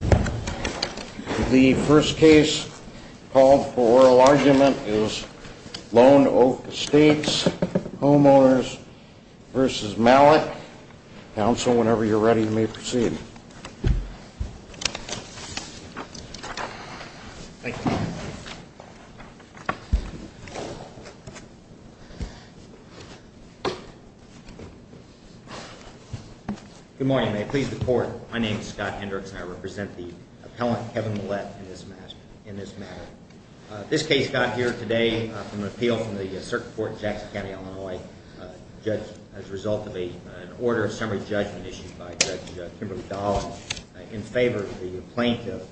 The first case called for oral argument is Lone Oak Estates Homeowners v. Mallette. Counsel, whenever you're ready, you may proceed. Thank you. Good morning. May it please the court. My name is Scott Hendricks, and I represent the appellant, Kevin Mallette, in this matter. This case got here today from an appeal from the Circuit Court in Jackson County, Illinois, judged as a result of an order of summary judgment issued by Judge Kimberly Dahl in favor of the plaintiff,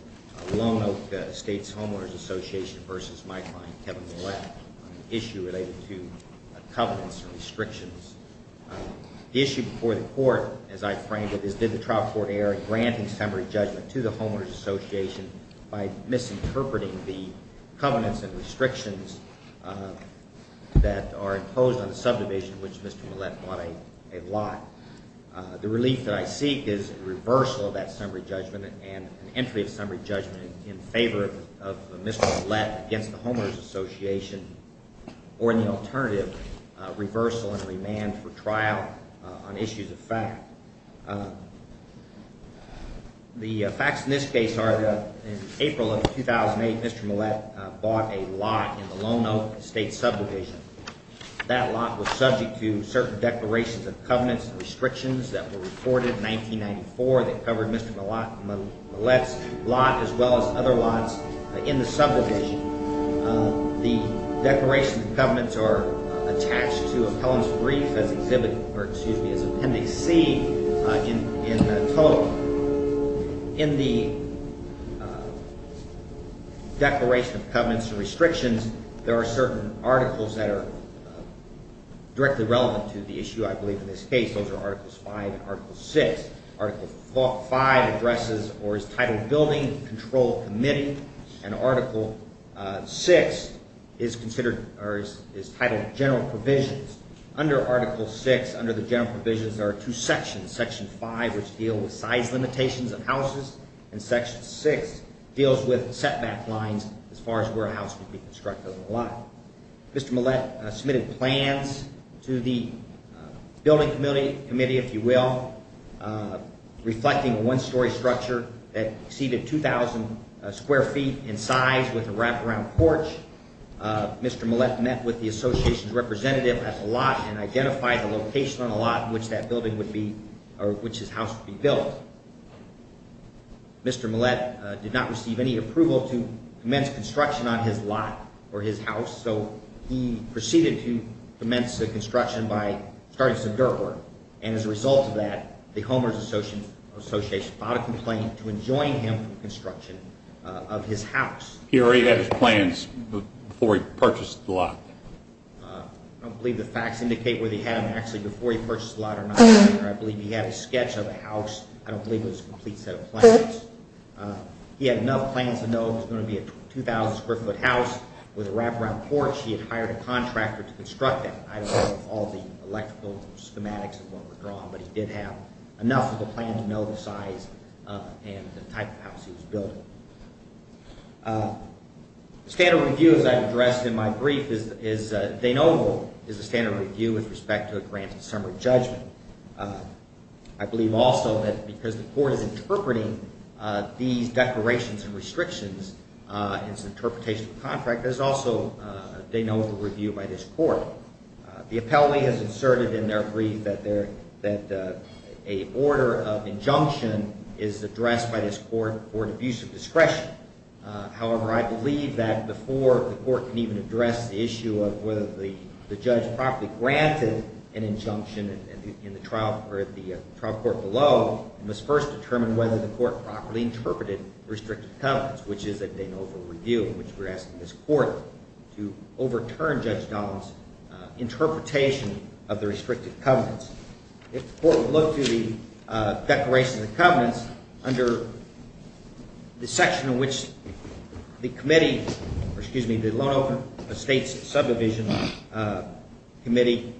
Lone Oak Estates Homeowners' Association v. my client, Kevin Mallette, on an issue related to covenants and restrictions. The issue before the court, as I framed it, is did the trial court err in granting summary judgment to the Homeowners' Association by misinterpreting the covenants and restrictions that are imposed on the subdivision, which Mr. Mallette bought a lot. The relief that I seek is a reversal of that summary judgment and an entry of summary judgment in favor of Mr. Mallette against the Homeowners' Association or an alternative reversal and remand for trial on issues of fact. The facts in this case are that in April of 2008, Mr. Mallette bought a lot in the Lone Oak Estates subdivision. That lot was subject to certain declarations of covenants and restrictions that were reported in 1994 that covered Mr. Mallette's lot as well as other lots in the subdivision. The declarations and covenants are attached to appellant's brief as Appendix C in the total. In the declaration of covenants and restrictions, there are certain articles that are directly relevant to the issue, I believe, in this case. Those are Articles 5 and Article 6. Article 5 addresses or is titled Building Control Committee, and Article 6 is titled General Provisions. Under Article 6, under the General Provisions, there are two sections. Section 5, which deal with size limitations of houses, and Section 6 deals with setback lines as far as where a house can be constructed on the lot. Mr. Mallette submitted plans to the Building Committee, if you will, reflecting a one-story structure that exceeded 2,000 square feet in size with a wraparound porch. Mr. Mallette met with the association's representative at the lot and identified the location on the lot in which that building would be, or which his house would be built. Mr. Mallette did not receive any approval to commence construction on his lot or his house, so he proceeded to commence the construction by starting some dirt work, and as a result of that, the Homeowners Association filed a complaint to enjoin him from construction of his house. I don't believe the facts indicate whether he had them actually before he purchased the lot or not. I believe he had a sketch of the house. I don't believe it was a complete set of plans. He had enough plans to know it was going to be a 2,000 square foot house with a wraparound porch. He had hired a contractor to construct that. I don't know if all the electrical schematics and what were drawn, but he did have enough of a plan to know the size and the type of house he was building. Standard review, as I addressed in my brief, is a standard review with respect to a grant and summary judgment. I believe also that because the Court is interpreting these declarations and restrictions as an interpretation of the contract, there's also a de novo review by this Court. The appellee has inserted in their brief that a order of injunction is addressed by this Court for abuse of discretion. However, I believe that before the Court can even address the issue of whether the judge properly granted an injunction in the trial or at the trial court below, it must first determine whether the Court properly interpreted the restricted covenants, which is a de novo review in which we're asking this Court to overturn Judge Dunlap's interpretation of the restricted covenants. If the Court would look to the declaration of the covenants under the section in which the Committee, or excuse me, the Loan Offering Estates Subdivision Committee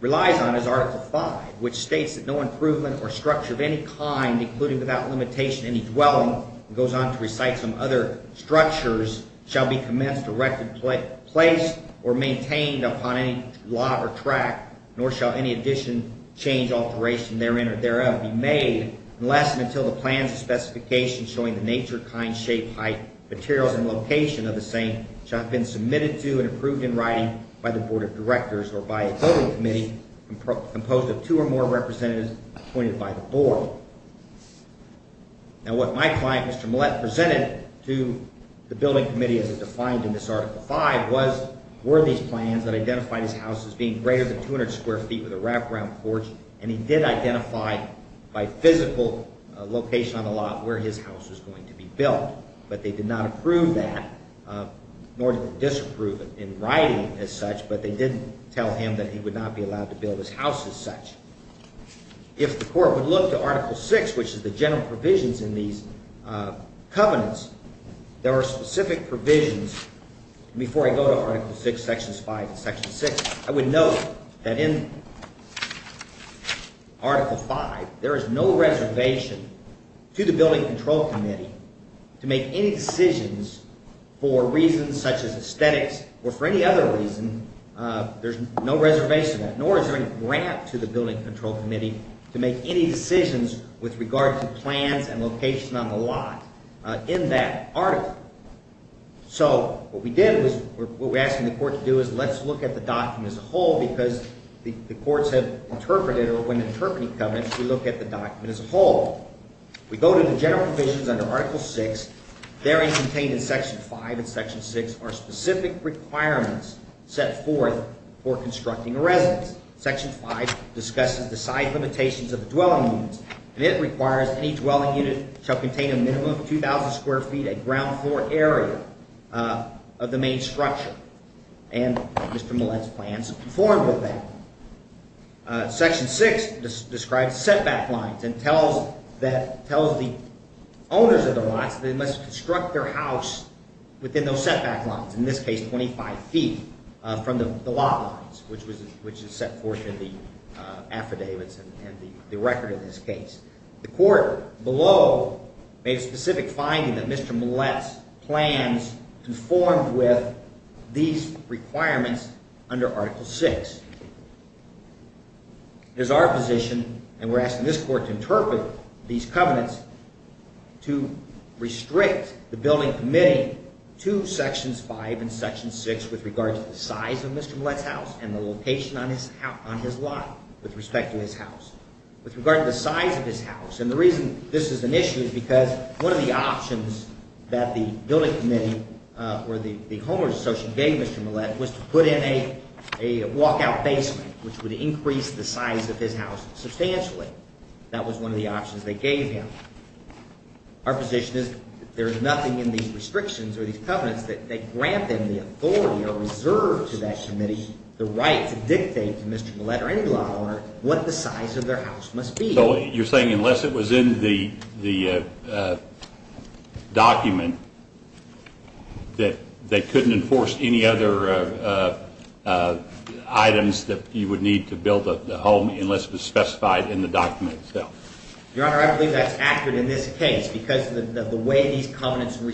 relies on is Article V, which states that no improvement or structure of any kind, including without limitation any dwelling, and goes on to recite some other structures, shall be commenced, erected, placed, or maintained upon any lot or track, nor shall any addition, change, alteration therein or thereof be made, unless and until the plans and specifications showing the nature, kind, shape, height, materials, and location of the same shall have been submitted to and approved in writing by the Board of Directors, or by a voting committee composed of two or more representatives appointed by the Board. Now what my client, Mr. Millett, presented to the Building Committee as it defined in this Article V were these plans that identified his house as being greater than 200 square feet with a wraparound porch, and he did identify by physical location on the lot where his house was going to be built, but they did not approve that, nor did they disapprove in writing as such, but they did tell him that he would not be allowed to build his house as such. If the Court would look to Article VI, which is the general provisions in these covenants, there are specific provisions before I go to Article VI, Sections V and Section VI, I would note that in Article V, there is no reservation to the Building Control Committee to make any decisions for reasons such as aesthetics or for any other reason, there's no reservation, nor is there any grant to the Building Control Committee to make any decisions with regard to plans and location on the lot in that Article. So what we did was what we're asking the Court to do is let's look at the document as a whole because the Courts have interpreted, or when interpreting covenants, we look at the document as a whole. We go to the general provisions under Article VI, there is contained in Section V and Section VI are specific requirements set forth for constructing a residence. Section V discusses the size limitations of the dwelling units, and it requires any dwelling unit shall be constructed, and Mr. Millett's plans conform with that. Section VI describes setback lines and tells the owners of the lots that they must construct their house within those setback lines, in this case 25 feet from the lot lines, which is set forth in the affidavits and the record of this case. The Court below made a specific finding that Mr. Millett's plans conformed with these requirements under Article VI. It is our position, and we're asking this Court to interpret these covenants to restrict the Building Committee to Sections V and Section VI with regard to the size of Mr. Millett's house and the location on his lot with respect to his house. With regard to the size of his house, and the reason this is an issue is because one of the options that the Building Committee or the homeowners associate gave Mr. Millett was to put in a walkout basement, which would increase the size of his house substantially. That was one of the options they gave him. Our position is there is nothing in these restrictions or these covenants that grant them the right to dictate to Mr. Millett or any law owner what the size of their house must be. So you're saying unless it was in the document that they couldn't enforce any other items that you would need to build the home unless it was specified in the document itself? Your Honor, I believe that's accurate in this case because of the way these covenants and the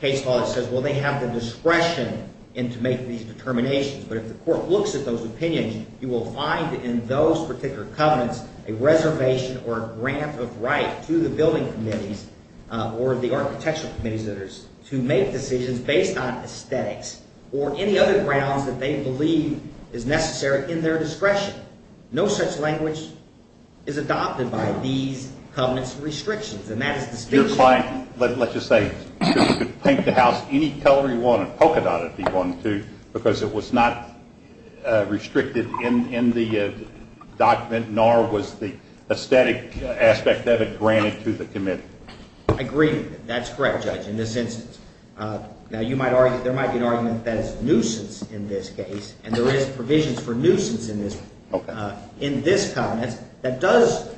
case law that says, well, they have the discretion to make these determinations. But if the court looks at those opinions, you will find in those particular covenants a reservation or a grant of right to the Building Committees or the Architectural Committees to make decisions based on aesthetics or any other grounds that they believe is necessary in their discretion. No such language is adopted by these covenants and restrictions. And that is the distinction. Your client, let's just say, could paint the house any color he wanted, polka dot it if he wanted to, because it was not restricted in the document, nor was the aesthetic aspect that it granted to the committee. I agree with you. That's correct, Judge, in this instance. Now, you might argue there might be an argument that it's nuisance in this case, and there is provisions for nuisance in this covenant that does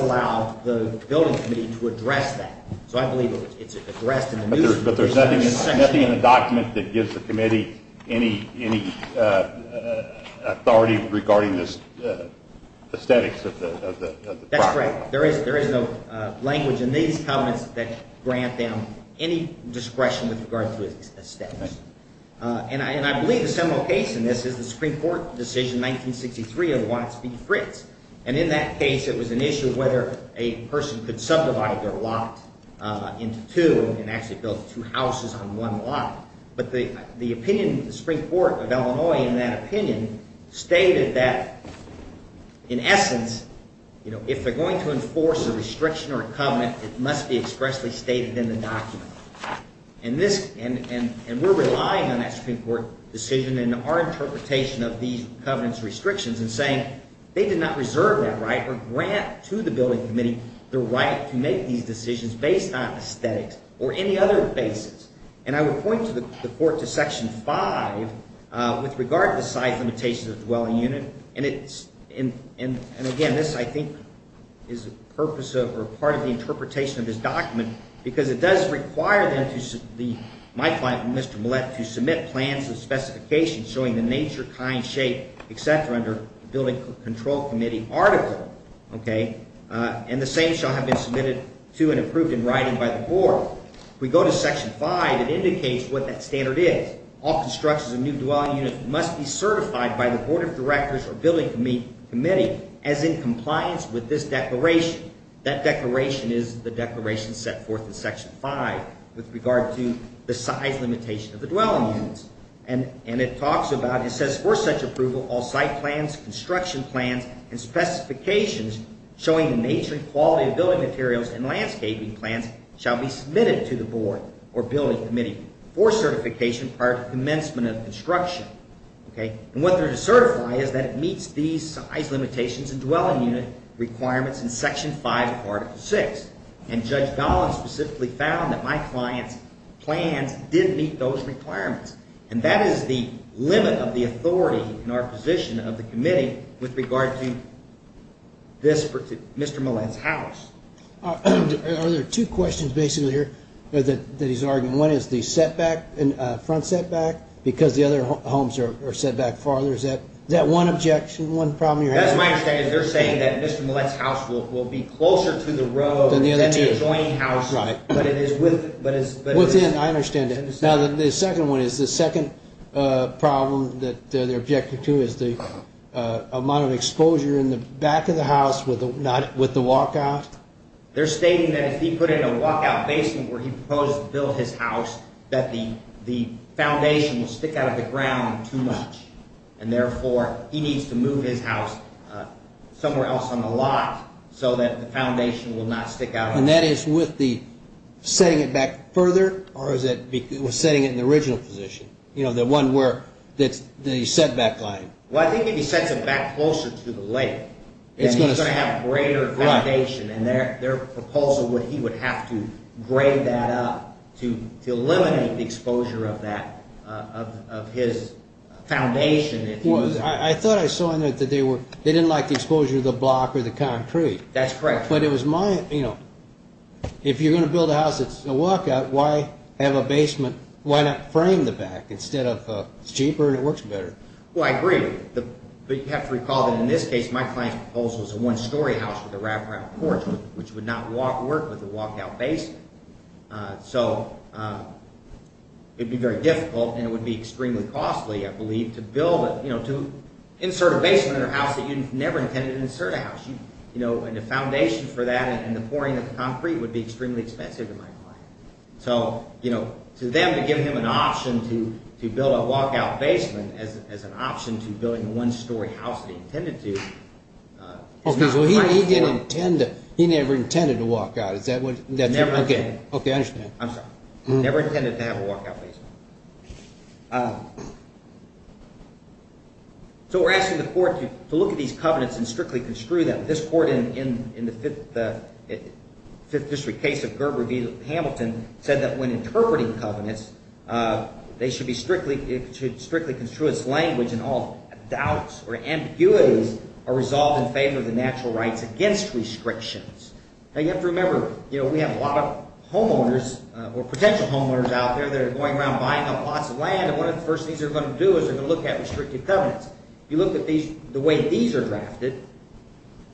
allow the Building Committee to address that. So I believe it's addressed in the nuisance. But there's nothing in the document that gives the committee any authority regarding the aesthetics of the property? That's correct. There is no language in these covenants that grant them any discretion with regard to aesthetics. And I believe a similar case in this is the Supreme Court decision in 1963 of Watts v. Fritz. And in that case, it was an issue of whether a person could subdivide their lot into two and actually build two houses on one lot. But the opinion of the Supreme Court of Illinois in that opinion stated that in essence, if they're going to enforce a restriction or a covenant, it must be expressly stated in the document. And we're relying on that Supreme Court decision and our interpretation of these covenants' restrictions in saying they did not reserve that right or grant to the Building Committee the right to make these decisions based on aesthetics or any other basis. And I would point the Court to Section 5 with regard to the size limitations of the dwelling unit. And again, this I think is part of the interpretation of this document because it does require my client, Mr. Millett, to submit plans and specifications showing the nature, kind, shape, etc. under the Building Control Committee article. And the same shall have been submitted to and approved in writing by the Board. If we go to Section 5, it indicates what that standard is. All constructions of new dwelling units must be certified by the Board of Directors or Building Committee as in compliance with this declaration. That declaration is the declaration set forth in Section 5 with regard to the size limitation of the dwelling units. And it talks about, it says for such approval, all site plans, construction plans and specifications showing the nature and quality of building materials and landscaping plans shall be submitted to the Board or Building Committee for certification prior to commencement of construction. And what they're to certify is that it meets these size limitations in dwelling unit requirements in Section 5 of Article 6. And Judge Dolan specifically found that my client's plans did meet those requirements. And that is the limit of the authority in our position of the committee with regard to this Mr. Millett's house. Are there two questions basically here that he's arguing? One is the setback, front setback because the other homes are set back farther. Is that one objection, one problem you're having? That's my understanding. They're saying that Mr. Millett's house will be closer to the road than the adjoining house. That's right. Within, I understand that. Now the second one is the second problem that they're objecting to is the amount of exposure in the back of the house with the walkout. They're stating that if he put in a walkout basement where he proposed to build his house that the foundation will stick out of the ground too much. And therefore he needs to move his house somewhere else on the lot so that the foundation will not stick out. And that is with the setting it back further or is it setting it in the original position? You know, the one where the setback line. Well, I think if he sets it back closer to the lake then he's going to have greater foundation. And their proposal would, he would have to grade that up to eliminate the exposure of that, of they didn't like the exposure of the block or the concrete. That's correct. But it was my, you know, if you're going to build a house that's a walkout, why have a basement, why not frame the back instead of, it's cheaper and it works better. Well, I agree. But you have to recall that in this case, my client's proposal was a one story house with a wraparound porch, which would not work with a walkout basement. So it'd be very difficult and it would be extremely costly, I believe, to build a, you know, to insert a basement in a house that you never intended to insert a house. You know, and the foundation for that and the pouring of the concrete would be extremely expensive to my client. So, you know, to them to give him an option to build a walkout basement as an option to building a one story house that he intended to Okay, so he didn't intend to, he never intended to walk out. Is that what, Okay, I understand. I'm sorry. Never intended to have a walkout basement. So we're asking the court to look at these covenants and strictly construe them. This court in the Fifth District case of Gerber v. Hamilton said that when interpreting covenants, they should be strictly construe its language and all doubts or ambiguities are resolved in favor of the natural rights against restrictions. Now you have to remember, you know, we have a lot of homeowners or potential homeowners out there that are going around buying up lots of land and one of the first things they're going to do is they're going to look at restricted covenants. You look at these, the way these are drafted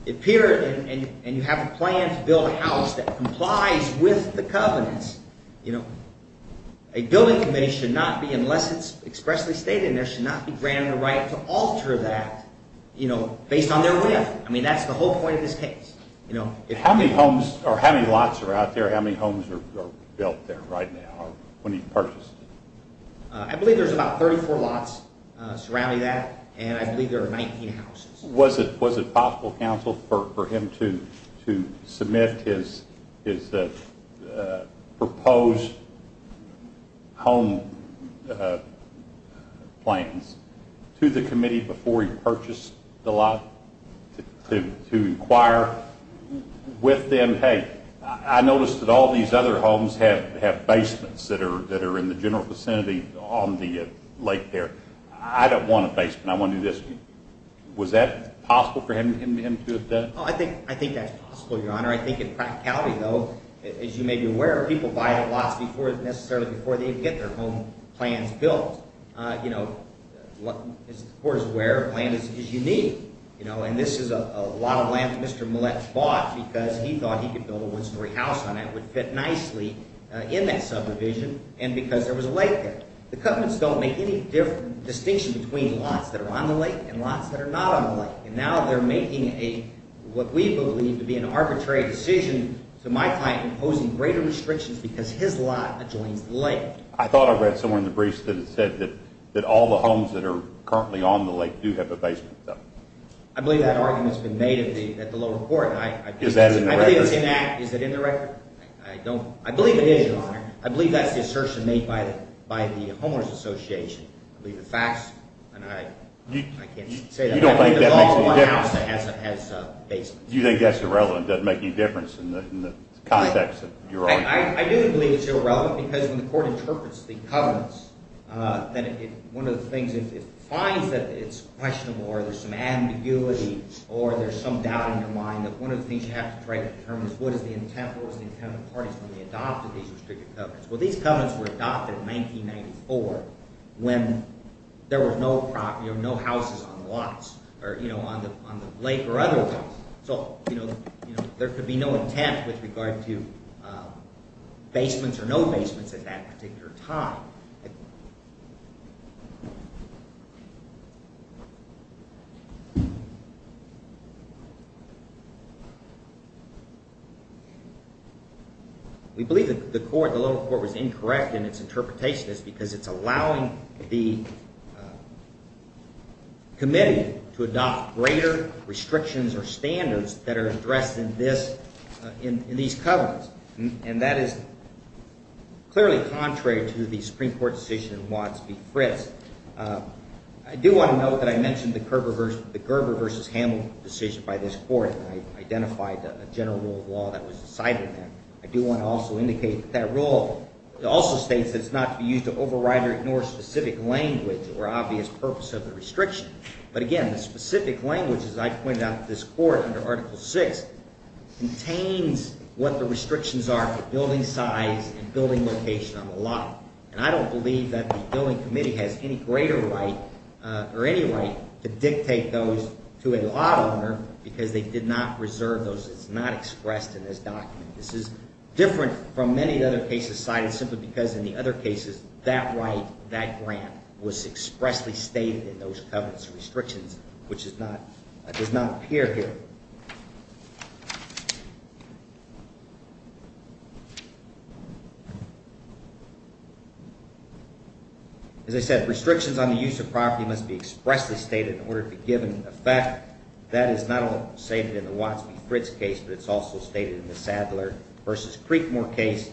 appear and you have a plan to build a house that complies with the covenants. You know, a building committee should not be, unless it's I mean, that's the whole point of this case. How many homes or how many lots are out there? How many homes are built there right now when he purchased? I believe there's about 34 lots surrounding that and I believe there are 19 houses. Was it possible, counsel, for him to submit his proposed home plans to the committee before he purchased the lot to inquire with them, hey, I noticed that all these other homes have basements that are in the general vicinity on the lake there. I don't want a basement. I want to do this. Was that possible for him to have done? I think that's possible, your honor. I think in practicality though, as you may be aware, people buy lots necessarily before they even get their home plans built. You know, as the court is aware, a plan is unique. You know, and this is a lot of land that Mr. Millett bought because he thought he could build a one story house on that. It would fit nicely in that subdivision and because there was a lake there. The covenants don't make any distinction between lots that are on the lake and lots that are not on the lake. And now they're making what we believe to be an arbitrary decision to my client imposing greater restrictions because his lot adjoins the lake. I thought I read somewhere in the briefs that it said that all the homes that are currently on the lake do have a basement. I believe that argument has been made at the lower court. Is that in the record? I believe it is, your honor. I believe that's the assertion made by the homeowners association. I believe the facts and I can't say that. You don't think that makes any difference? You think that's irrelevant, doesn't make any difference in the context? I do believe it's irrelevant because when the court interprets the covenants that one of the things, if it finds that it's questionable or there's some ambiguity or there's some doubt in your mind that one of the things you have to try to determine is what is the intent, what was the intent of the parties when they adopted these restrictive covenants. Well these covenants were adopted in 1994 when there were no houses on the lake or otherwise. So there could be no intent with regard to basements or no basements at that particular time. We believe that the court, the lower court was incorrect in its interpretation because it's allowing the committee to adopt greater restrictions or standards that are addressed in this, in these covenants. And that is clearly contrary to the Supreme Court decision in Watts v. Fritz. I do want to note that I mentioned the Gerber v. Hamill decision by this court and I identified a general rule of law that was decided in that. I do want to also indicate that that rule also states that it's not to be used to override or ignore specific language or obvious purpose of the restriction. But again, the specific language, as I pointed out in this court under Article VI, contains what the restrictions are for building size and building location on the lot. And I don't believe that the building committee has any greater right or any right to dictate those to a lot owner because they did not reserve those. It's not expressed in this document. This is different from many other cases cited simply because in the other cases that right, that grant was expressly stated in those covenants and restrictions, which is not, does not appear here. As I said, restrictions on the use of property must be expressly stated in order to be given effect. That is not only stated in the Watts v. Fritz case, but it's also stated in the Sadler v. Creekmore case,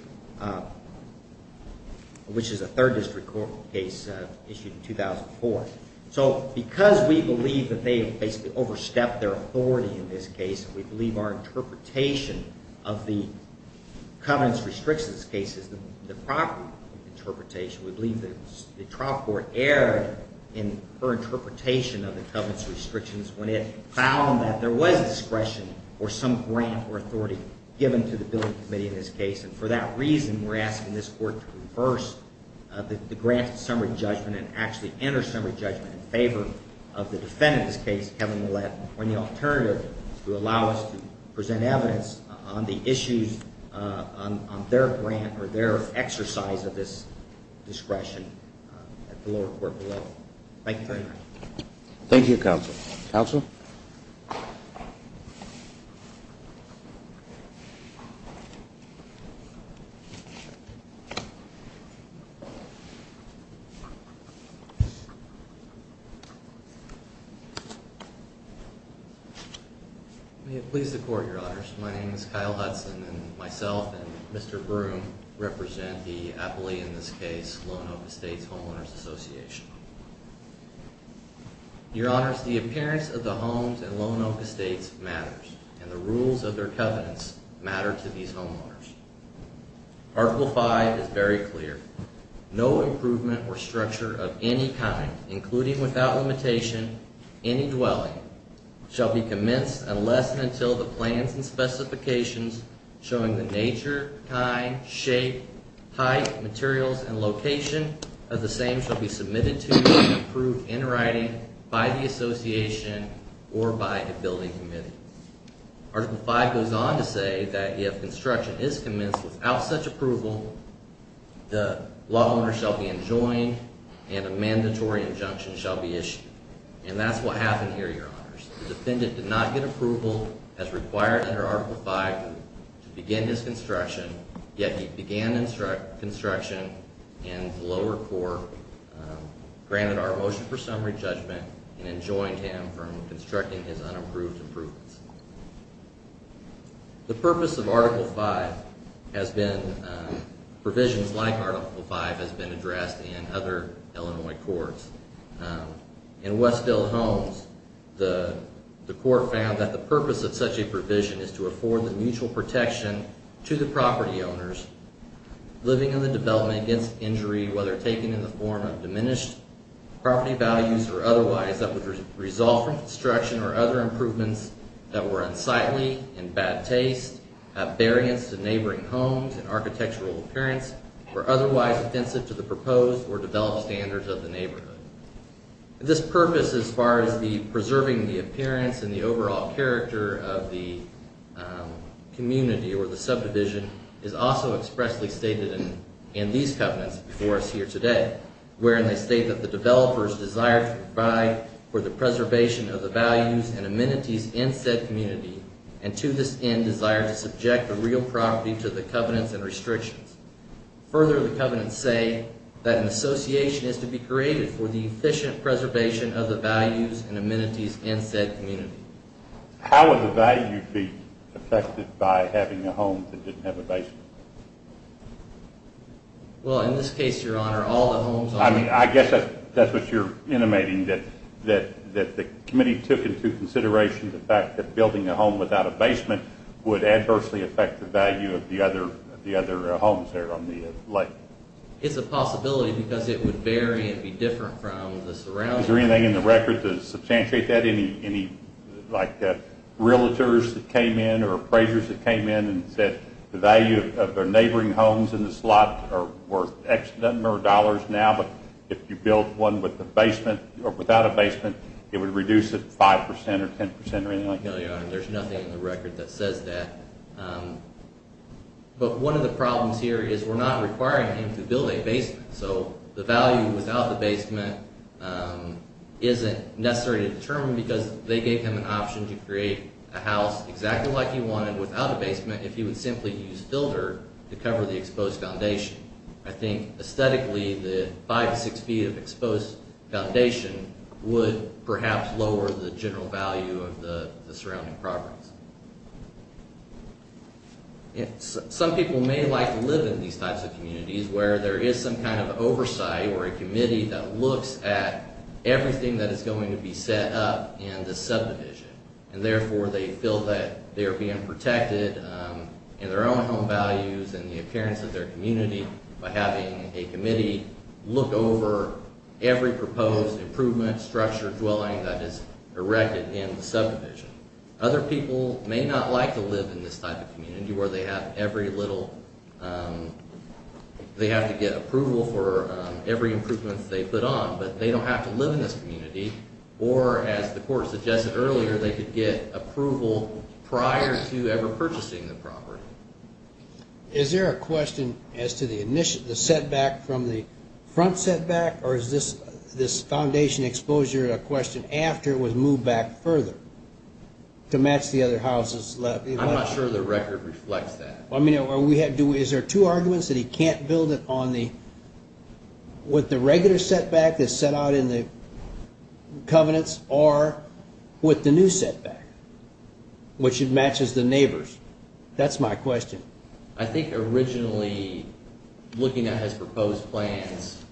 which is a third district court case issued in 2004. So because we believe that they basically overstepped their authority in this case, we believe our interpretation of the covenants restrictions case is the proper interpretation. We believe that the trial court erred in her interpretation of the covenants restrictions when it found that there was discretion or some grant or authority given to the building committee in this case. And for that reason, we're in favor of the defendant's case, Kevin Millett, when the alternative to allow us to present evidence on the issues on their grant or their exercise of this discretion at the lower court below. May it please the court, your honors. My name is Kyle Hudson and myself and Mr. Broome represent the appellee in this case, Lone Oak Estates Homeowners Association. Your honors, the appearance of the homes at Lone Oak Estates matters and the rules of their covenants matter to these homeowners. Article five is very clear. No improvement or structure of any kind, including without limitation, any dwelling shall be commenced unless and until the plans and specifications showing the nature, kind, shape, height, materials, and location of the same shall be submitted to and approved in writing by the association or by the building committee. Article five goes on to say that if construction is commenced without such approval, the law owner shall be enjoined and a mandatory injunction shall be issued. And that's what happened here, your honors. The defendant did not get approval as required under article five to begin his construction, yet he began construction and the lower court granted our motion for summary judgment and enjoined him from constructing his unapproved improvements. The purpose of article five has been, provisions like article five has been addressed in other Illinois courts. In Westfield Homes, the court found that the purpose of such a provision is to afford the mutual protection to the property owners living in the development against injury, whether taken in the form of diminished property values or otherwise that would result from construction or other improvements that were unsightly and bad taste, have variance to neighboring homes and architectural appearance, or otherwise offensive to the proposed or developed standards of the neighborhood. This purpose, as far as the preserving the appearance and the overall character of the community or the subdivision, is also expressly stated in these covenants before us here today, wherein they state that the developers desire to provide for the preservation of the values and amenities in said community and to this end desire to subject the real property to the covenants and restrictions. Further, the covenants say that an association is to be created for the efficient preservation of the values and amenities in said community. How would the value be affected by having a home that didn't have a basement? Well, in this case, your honor, all the homes... I mean, I guess that's what you're intimating, that the committee took into consideration the fact that building a home without a basement would adversely affect the value of the other homes there on the lake. It's a possibility because it would vary and be different from the surroundings. Is there anything in the record to substantiate that? Any, like, realtors that came in or appraisers that came in and said the value of their neighboring homes in this lot are worth X number of dollars now, but if you built one with a basement or without a basement, it would reduce it 5% or 10% or anything like that? No, your honor, there's nothing in the record that says that. But one of the problems here is we're not requiring him to build a basement, so the value without the basement isn't necessary to determine because they gave him an option to create a house exactly like he wanted without a basement if he would simply use filter to cover the exposed foundation. I think, aesthetically, the 5-6 feet of exposed foundation would perhaps lower the general value of the surrounding properties. Some people may like to live in these types of communities where there is some kind of oversight or a committee that looks at everything that is going to be set up in the subdivision, and therefore they feel that they're being protected in their own home values and the proposed improvement structure dwelling that is erected in the subdivision. Other people may not like to live in this type of community where they have every little... they have to get approval for every improvement they put on, but they don't have to live in this community or, as the court suggested earlier, they could get approval prior to ever purchasing the property. Is there a question as to the setback from the front setback, or is this foundation exposure a question after it was moved back further to match the other houses left? I'm not sure the record reflects that. Is there two arguments that he can't build it with the regular setback that's set out in the covenants or with the new setback, which it matches the neighbors? That's my question. I think originally looking at his proposed plans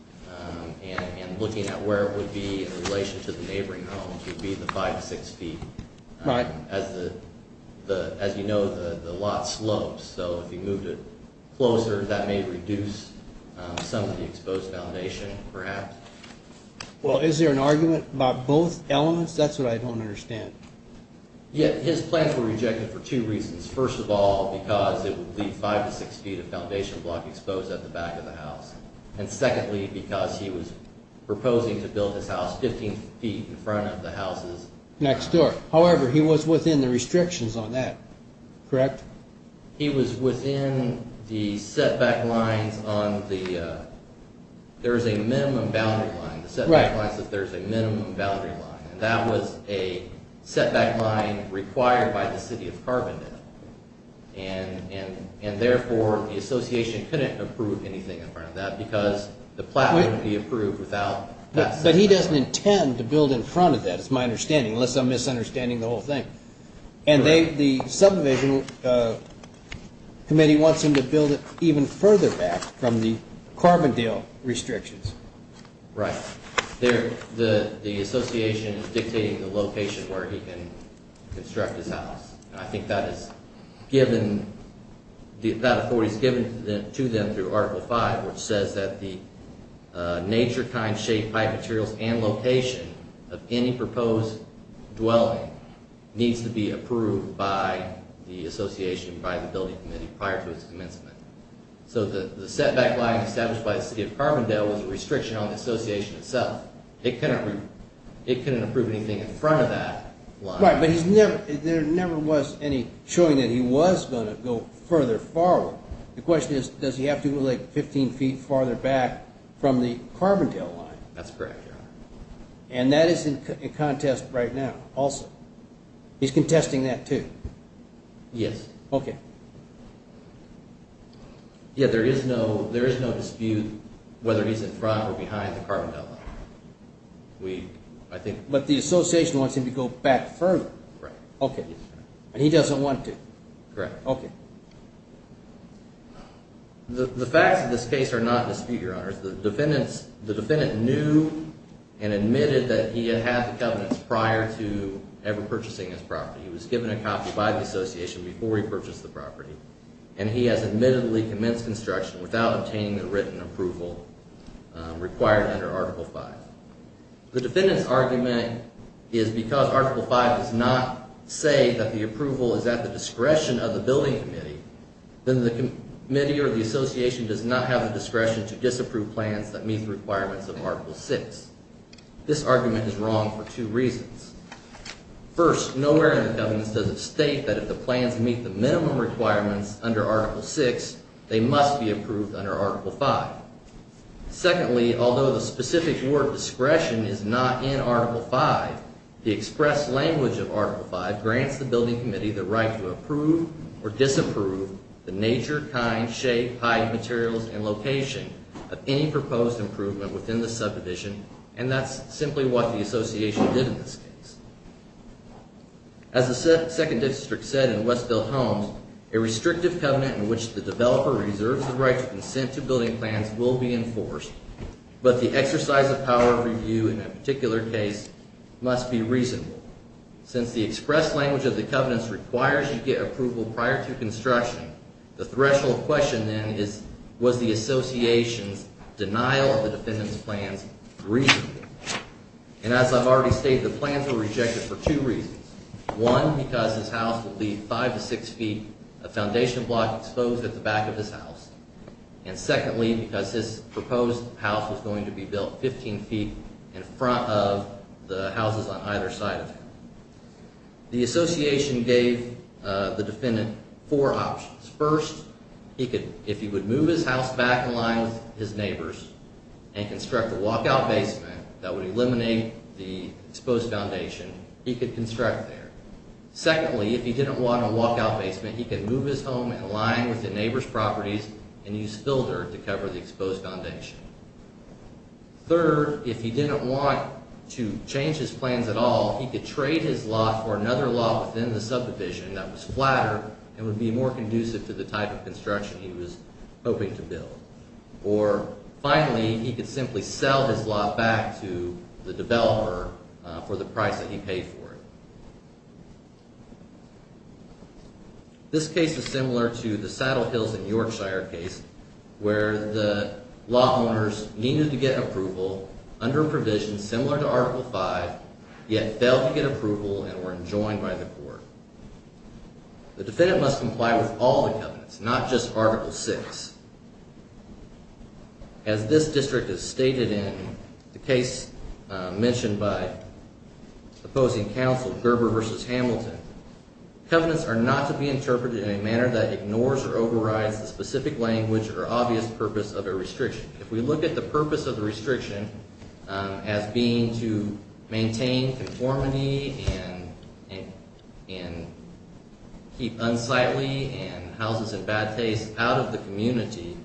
and looking at where it would be in relation to the neighboring homes would be the five to six feet. As you know, the lot slopes, so if you moved it closer, that may reduce some of the exposed foundation, perhaps. Well, is there an argument about both elements? That's what I don't understand. Yeah, his plans were rejected for two reasons. First of all, because it would be five to six feet of foundation block exposed at the back of the house. And secondly, because he was proposing to build this house 15 feet in front of the houses next door. However, he was within the restrictions on that, correct? He was within the setback lines on the, there's a minimum boundary line. The setback line says there's a minimum boundary line. And that was a setback line required by the city of Carbondale. And therefore, the association couldn't approve anything in front of that because the plot wouldn't be approved without that setback. But he doesn't intend to build in front of that, is my understanding, unless I'm to build it even further back from the Carbondale restrictions. Right. The association is dictating the location where he can construct his house. And I think that is given, that authority is given to them through Article 5, which says that the nature, kind, shape, type, materials, and location of any proposed dwelling needs to be approved by the association, by the building committee prior to its commencement. So the setback line established by the city of Carbondale was a restriction on the association itself. It couldn't approve anything in front of that line. Right, but he's never, there never was any showing that he was going to go further forward. The question is, does he have to go like 15 feet farther back from the Carbondale line? That's correct, Your Honor. And that is in contest right now also. He's contesting that too? Yes. Okay. Yeah, there is no dispute whether he's in front or behind the Carbondale line. We, I think. But the association wants him to go back further. Right. Okay. And he doesn't want to? Correct. Okay. The facts of this case are not in dispute, Your Honor. The defendant knew and admitted that he had had the covenants prior to ever purchasing his property. He was given a copy by the association before he purchased the property. And he has admittedly commenced construction without obtaining the written approval required under Article 5. The defendant's argument is because Article 5 does not say that the approval is at the discretion of the building committee, then the committee or the association does not have the discretion to disapprove plans that meet the requirements of Article 6. This argument is wrong for two reasons. First, nowhere in the covenants does it state that if the plans meet the minimum requirements under Article 6, they must be approved under Article 5. Secondly, although the specific word discretion is not in Article 5, the express language of Article 5 grants the building committee the right to approve or disapprove the nature, kind, shape, height, materials, and location of any proposed improvement within the subdivision. And that's simply what the association did in this case. As the second district said in Westville Homes, a restrictive covenant in which the developer reserves the right to consent to building plans will be enforced, but the exercise of power of review in that particular case must be reasonable. Since the express language of the covenants requires you get approval prior to construction, the threshold question then is, was the association's denial of the defendant's plans reasonable? And as I've already stated, the plans were rejected for two reasons. One, because his house would be 5 to 6 feet of foundation block exposed at the back of his house. And secondly, because his proposed house was going to be built 15 feet in front of the houses on either side of him. The association gave the defendant four options. First, if he would move his house back in line with his neighbors and construct a there. Secondly, if he didn't want a walkout basement, he could move his home in line with the neighbor's properties and use fill dirt to cover the exposed foundation. Third, if he didn't want to change his plans at all, he could trade his lot for another lot within the subdivision that was flatter and would be more conducive to the type of construction he was hoping to build. Or finally, he could simply sell his lot back to the developer for the price that he paid for it. This case is similar to the Saddle Hills and Yorkshire case where the lot owners needed to get approval under a provision similar to Article V, yet failed to get approval and were enjoined by the court. The defendant must comply with all the covenants, not just one. As this district has stated in the case mentioned by opposing counsel Gerber v. Hamilton, covenants are not to be interpreted in a manner that ignores or overrides the specific language or obvious purpose of a restriction. If we look at the purpose of the restriction as being to maintain conformity and keep unsightly and houses in bad taste out of the community,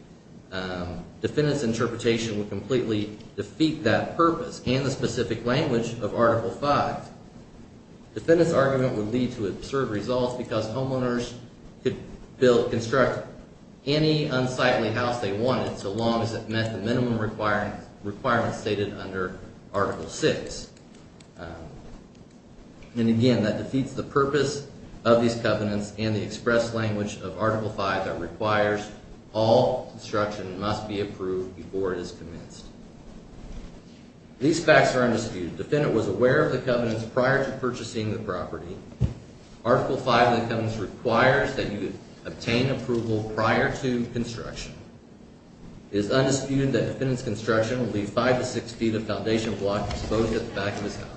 defendant's interpretation would completely defeat that purpose and the specific language of Article V. Defendant's argument would lead to absurd results because homeowners could construct any unsightly house they wanted so long as it met the minimum requirements stated under Article VI. And again, that defeats the purpose of these covenants and the express language of Article V that requires all construction must be approved before it is commenced. These facts are undisputed. Defendant was aware of the covenants prior to purchasing the property. Article V of the covenants requires that you obtain approval prior to construction. It is undisputed that defendant's construction would leave five to six feet of foundation block exposed at the back of his house.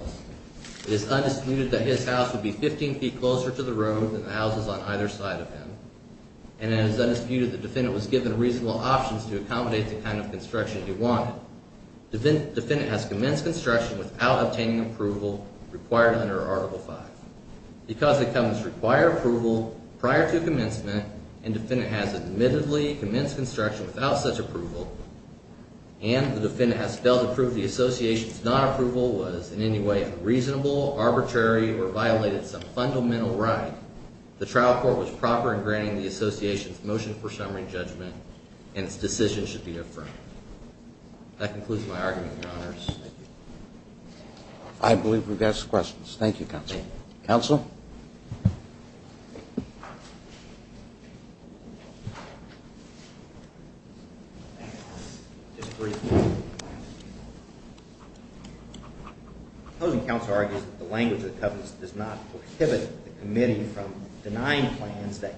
It is undisputed that his house would be 15 feet closer to the road than the houses on either side of him. And it is undisputed that defendant was given reasonable options to accommodate the kind of construction he wanted. Defendant has commenced construction without obtaining approval required under Article V. Because the covenants require approval prior to commencement and defendant has admittedly commenced construction without such approval and the defendant has failed to prove the association's non-approval was in any way reasonable, arbitrary, or violated some fundamental right, the trial court was proper in granting the association's motion for summary judgment and its decision should be affirmed. That concludes my argument, Your Honors. I believe we've got some questions. Thank you, Counsel. Counsel? The opposing counsel argues that the language of the covenants does not prohibit the committee from denying plans that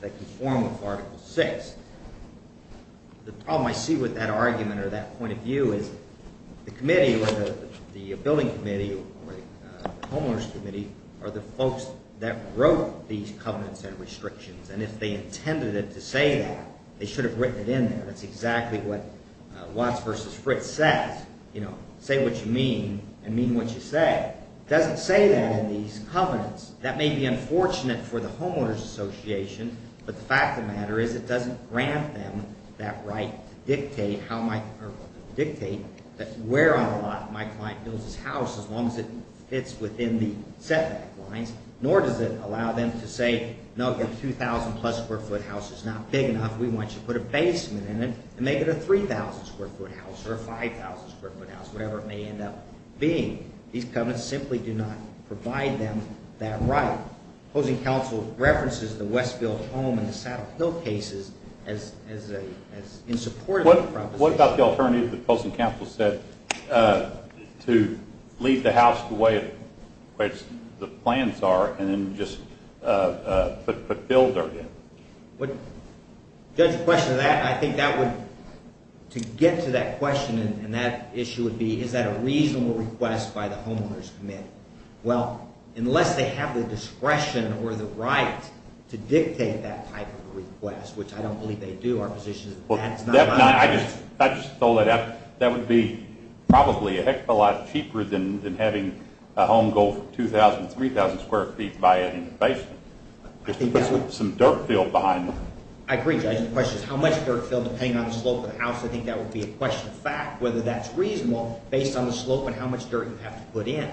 conform with Article VI. The problem I see with that argument or that point of view is the committee or the billing committee or the homeowners committee are the folks that wrote these covenants and restrictions and if they intended it to say that, they should have written it in there. That's exactly what Watts v. Fritz says. Say what you mean and mean what you say. It doesn't say that in these covenants. That may be unfortunate for the homeowners association, but the fact of the matter is it doesn't grant them that right to dictate where on the lot my client builds his house as long as it fits within the setback lines, nor does it allow them to say, no, your 2,000 plus square foot house is not big enough. We want you to put a basement in it and make it a 3,000 square foot house or a 5,000 square foot house, whatever it may end up being. These covenants simply do not provide them that right. The opposing counsel references the Westfield home and the Saddle Hill cases as in support of the proposition. What about the alternative that the opposing counsel said to leave the house the way the plans are and then just put build dirt in? Judge, to get to that question and that issue would be, is that a reasonable request by the homeowners committee? Well, unless they have the discretion or the right to dictate that type of request, which I don't believe they do. Our position is that is not an option. I just thought that would be probably a heck of a lot cheaper than having a home go 2,000, 3,000 square feet by adding a basement. Just to put some dirt field behind them. I agree, Judge. The question is how much dirt field depending on the slope of the house. I think that would be a question of fact, whether that's reasonable based on the slope and how much dirt you have to put in.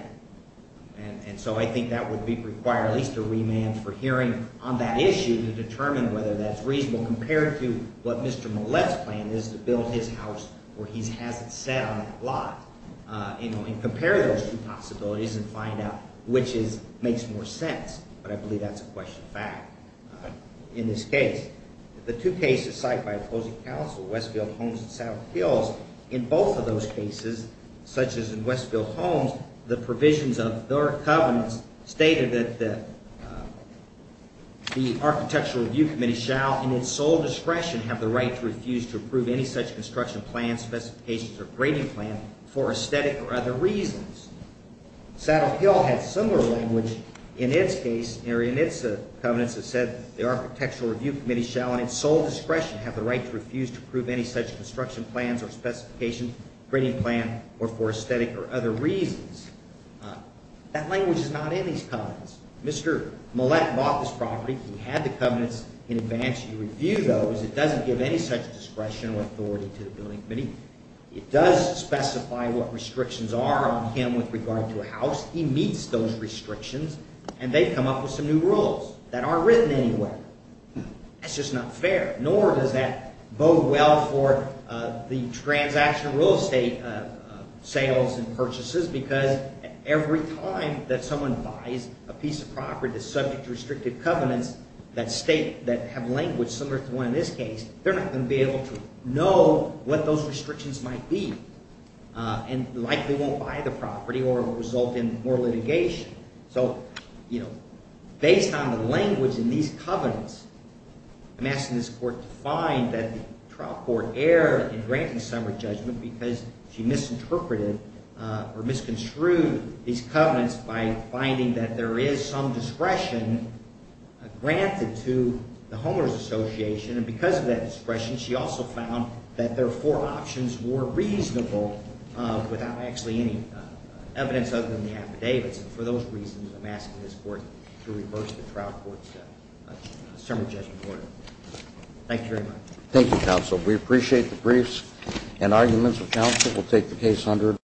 And so I think that would require at least a remand for hearing on that issue to determine whether that's reasonable compared to what Mr. Millett's plan is to build his house where he has it set on that lot and compare those two possibilities and find out which makes more sense. But I believe that's a question of fact in this case. The two cases cited by opposing counsel, Westfield Homes and Saddle Hills, in both of those cases, such as in Westfield Homes, the provisions of their covenants stated that the architectural review committee shall in its sole discretion have the right to refuse to approve any such construction plan, specifications, or grading plan for aesthetic or other reasons. Saddle Hill had similar language in its case in its covenants that said the architectural review committee shall in its sole discretion have the right to refuse to approve any such construction plans or specifications, grading plan, or for aesthetic or other reasons. That language is not in these covenants. Mr. Millett bought this property. He had the covenants in advance. He reviewed those. It doesn't give any such discretion or authority to the building committee. It does specify what restrictions are on him with regard to a house. He meets those restrictions and they come up with some new rules that aren't written anywhere. That's just not fair, nor does that bode well for the transaction of real estate sales and purchases because every time that someone buys a piece of property that's subject to restricted covenants that have language similar to the one in this case, they're not going to be able to know what those restrictions might be and likely won't buy the property or result in more litigation. So based on the language in these covenants, I'm asking this court to find that the trial court erred in granting Summer's judgment because she misinterpreted or misconstrued these covenants by finding that there is some discretion granted to the Homeowner's Association. And because of that discretion, she also found that their four options were reasonable without actually any evidence other than the affidavits. For those reasons, I'm asking this court to reverse the trial court's Summer's judgment order. Thank you very much. Thank you, Counsel. We appreciate the briefs and arguments of counsel. We'll take the case under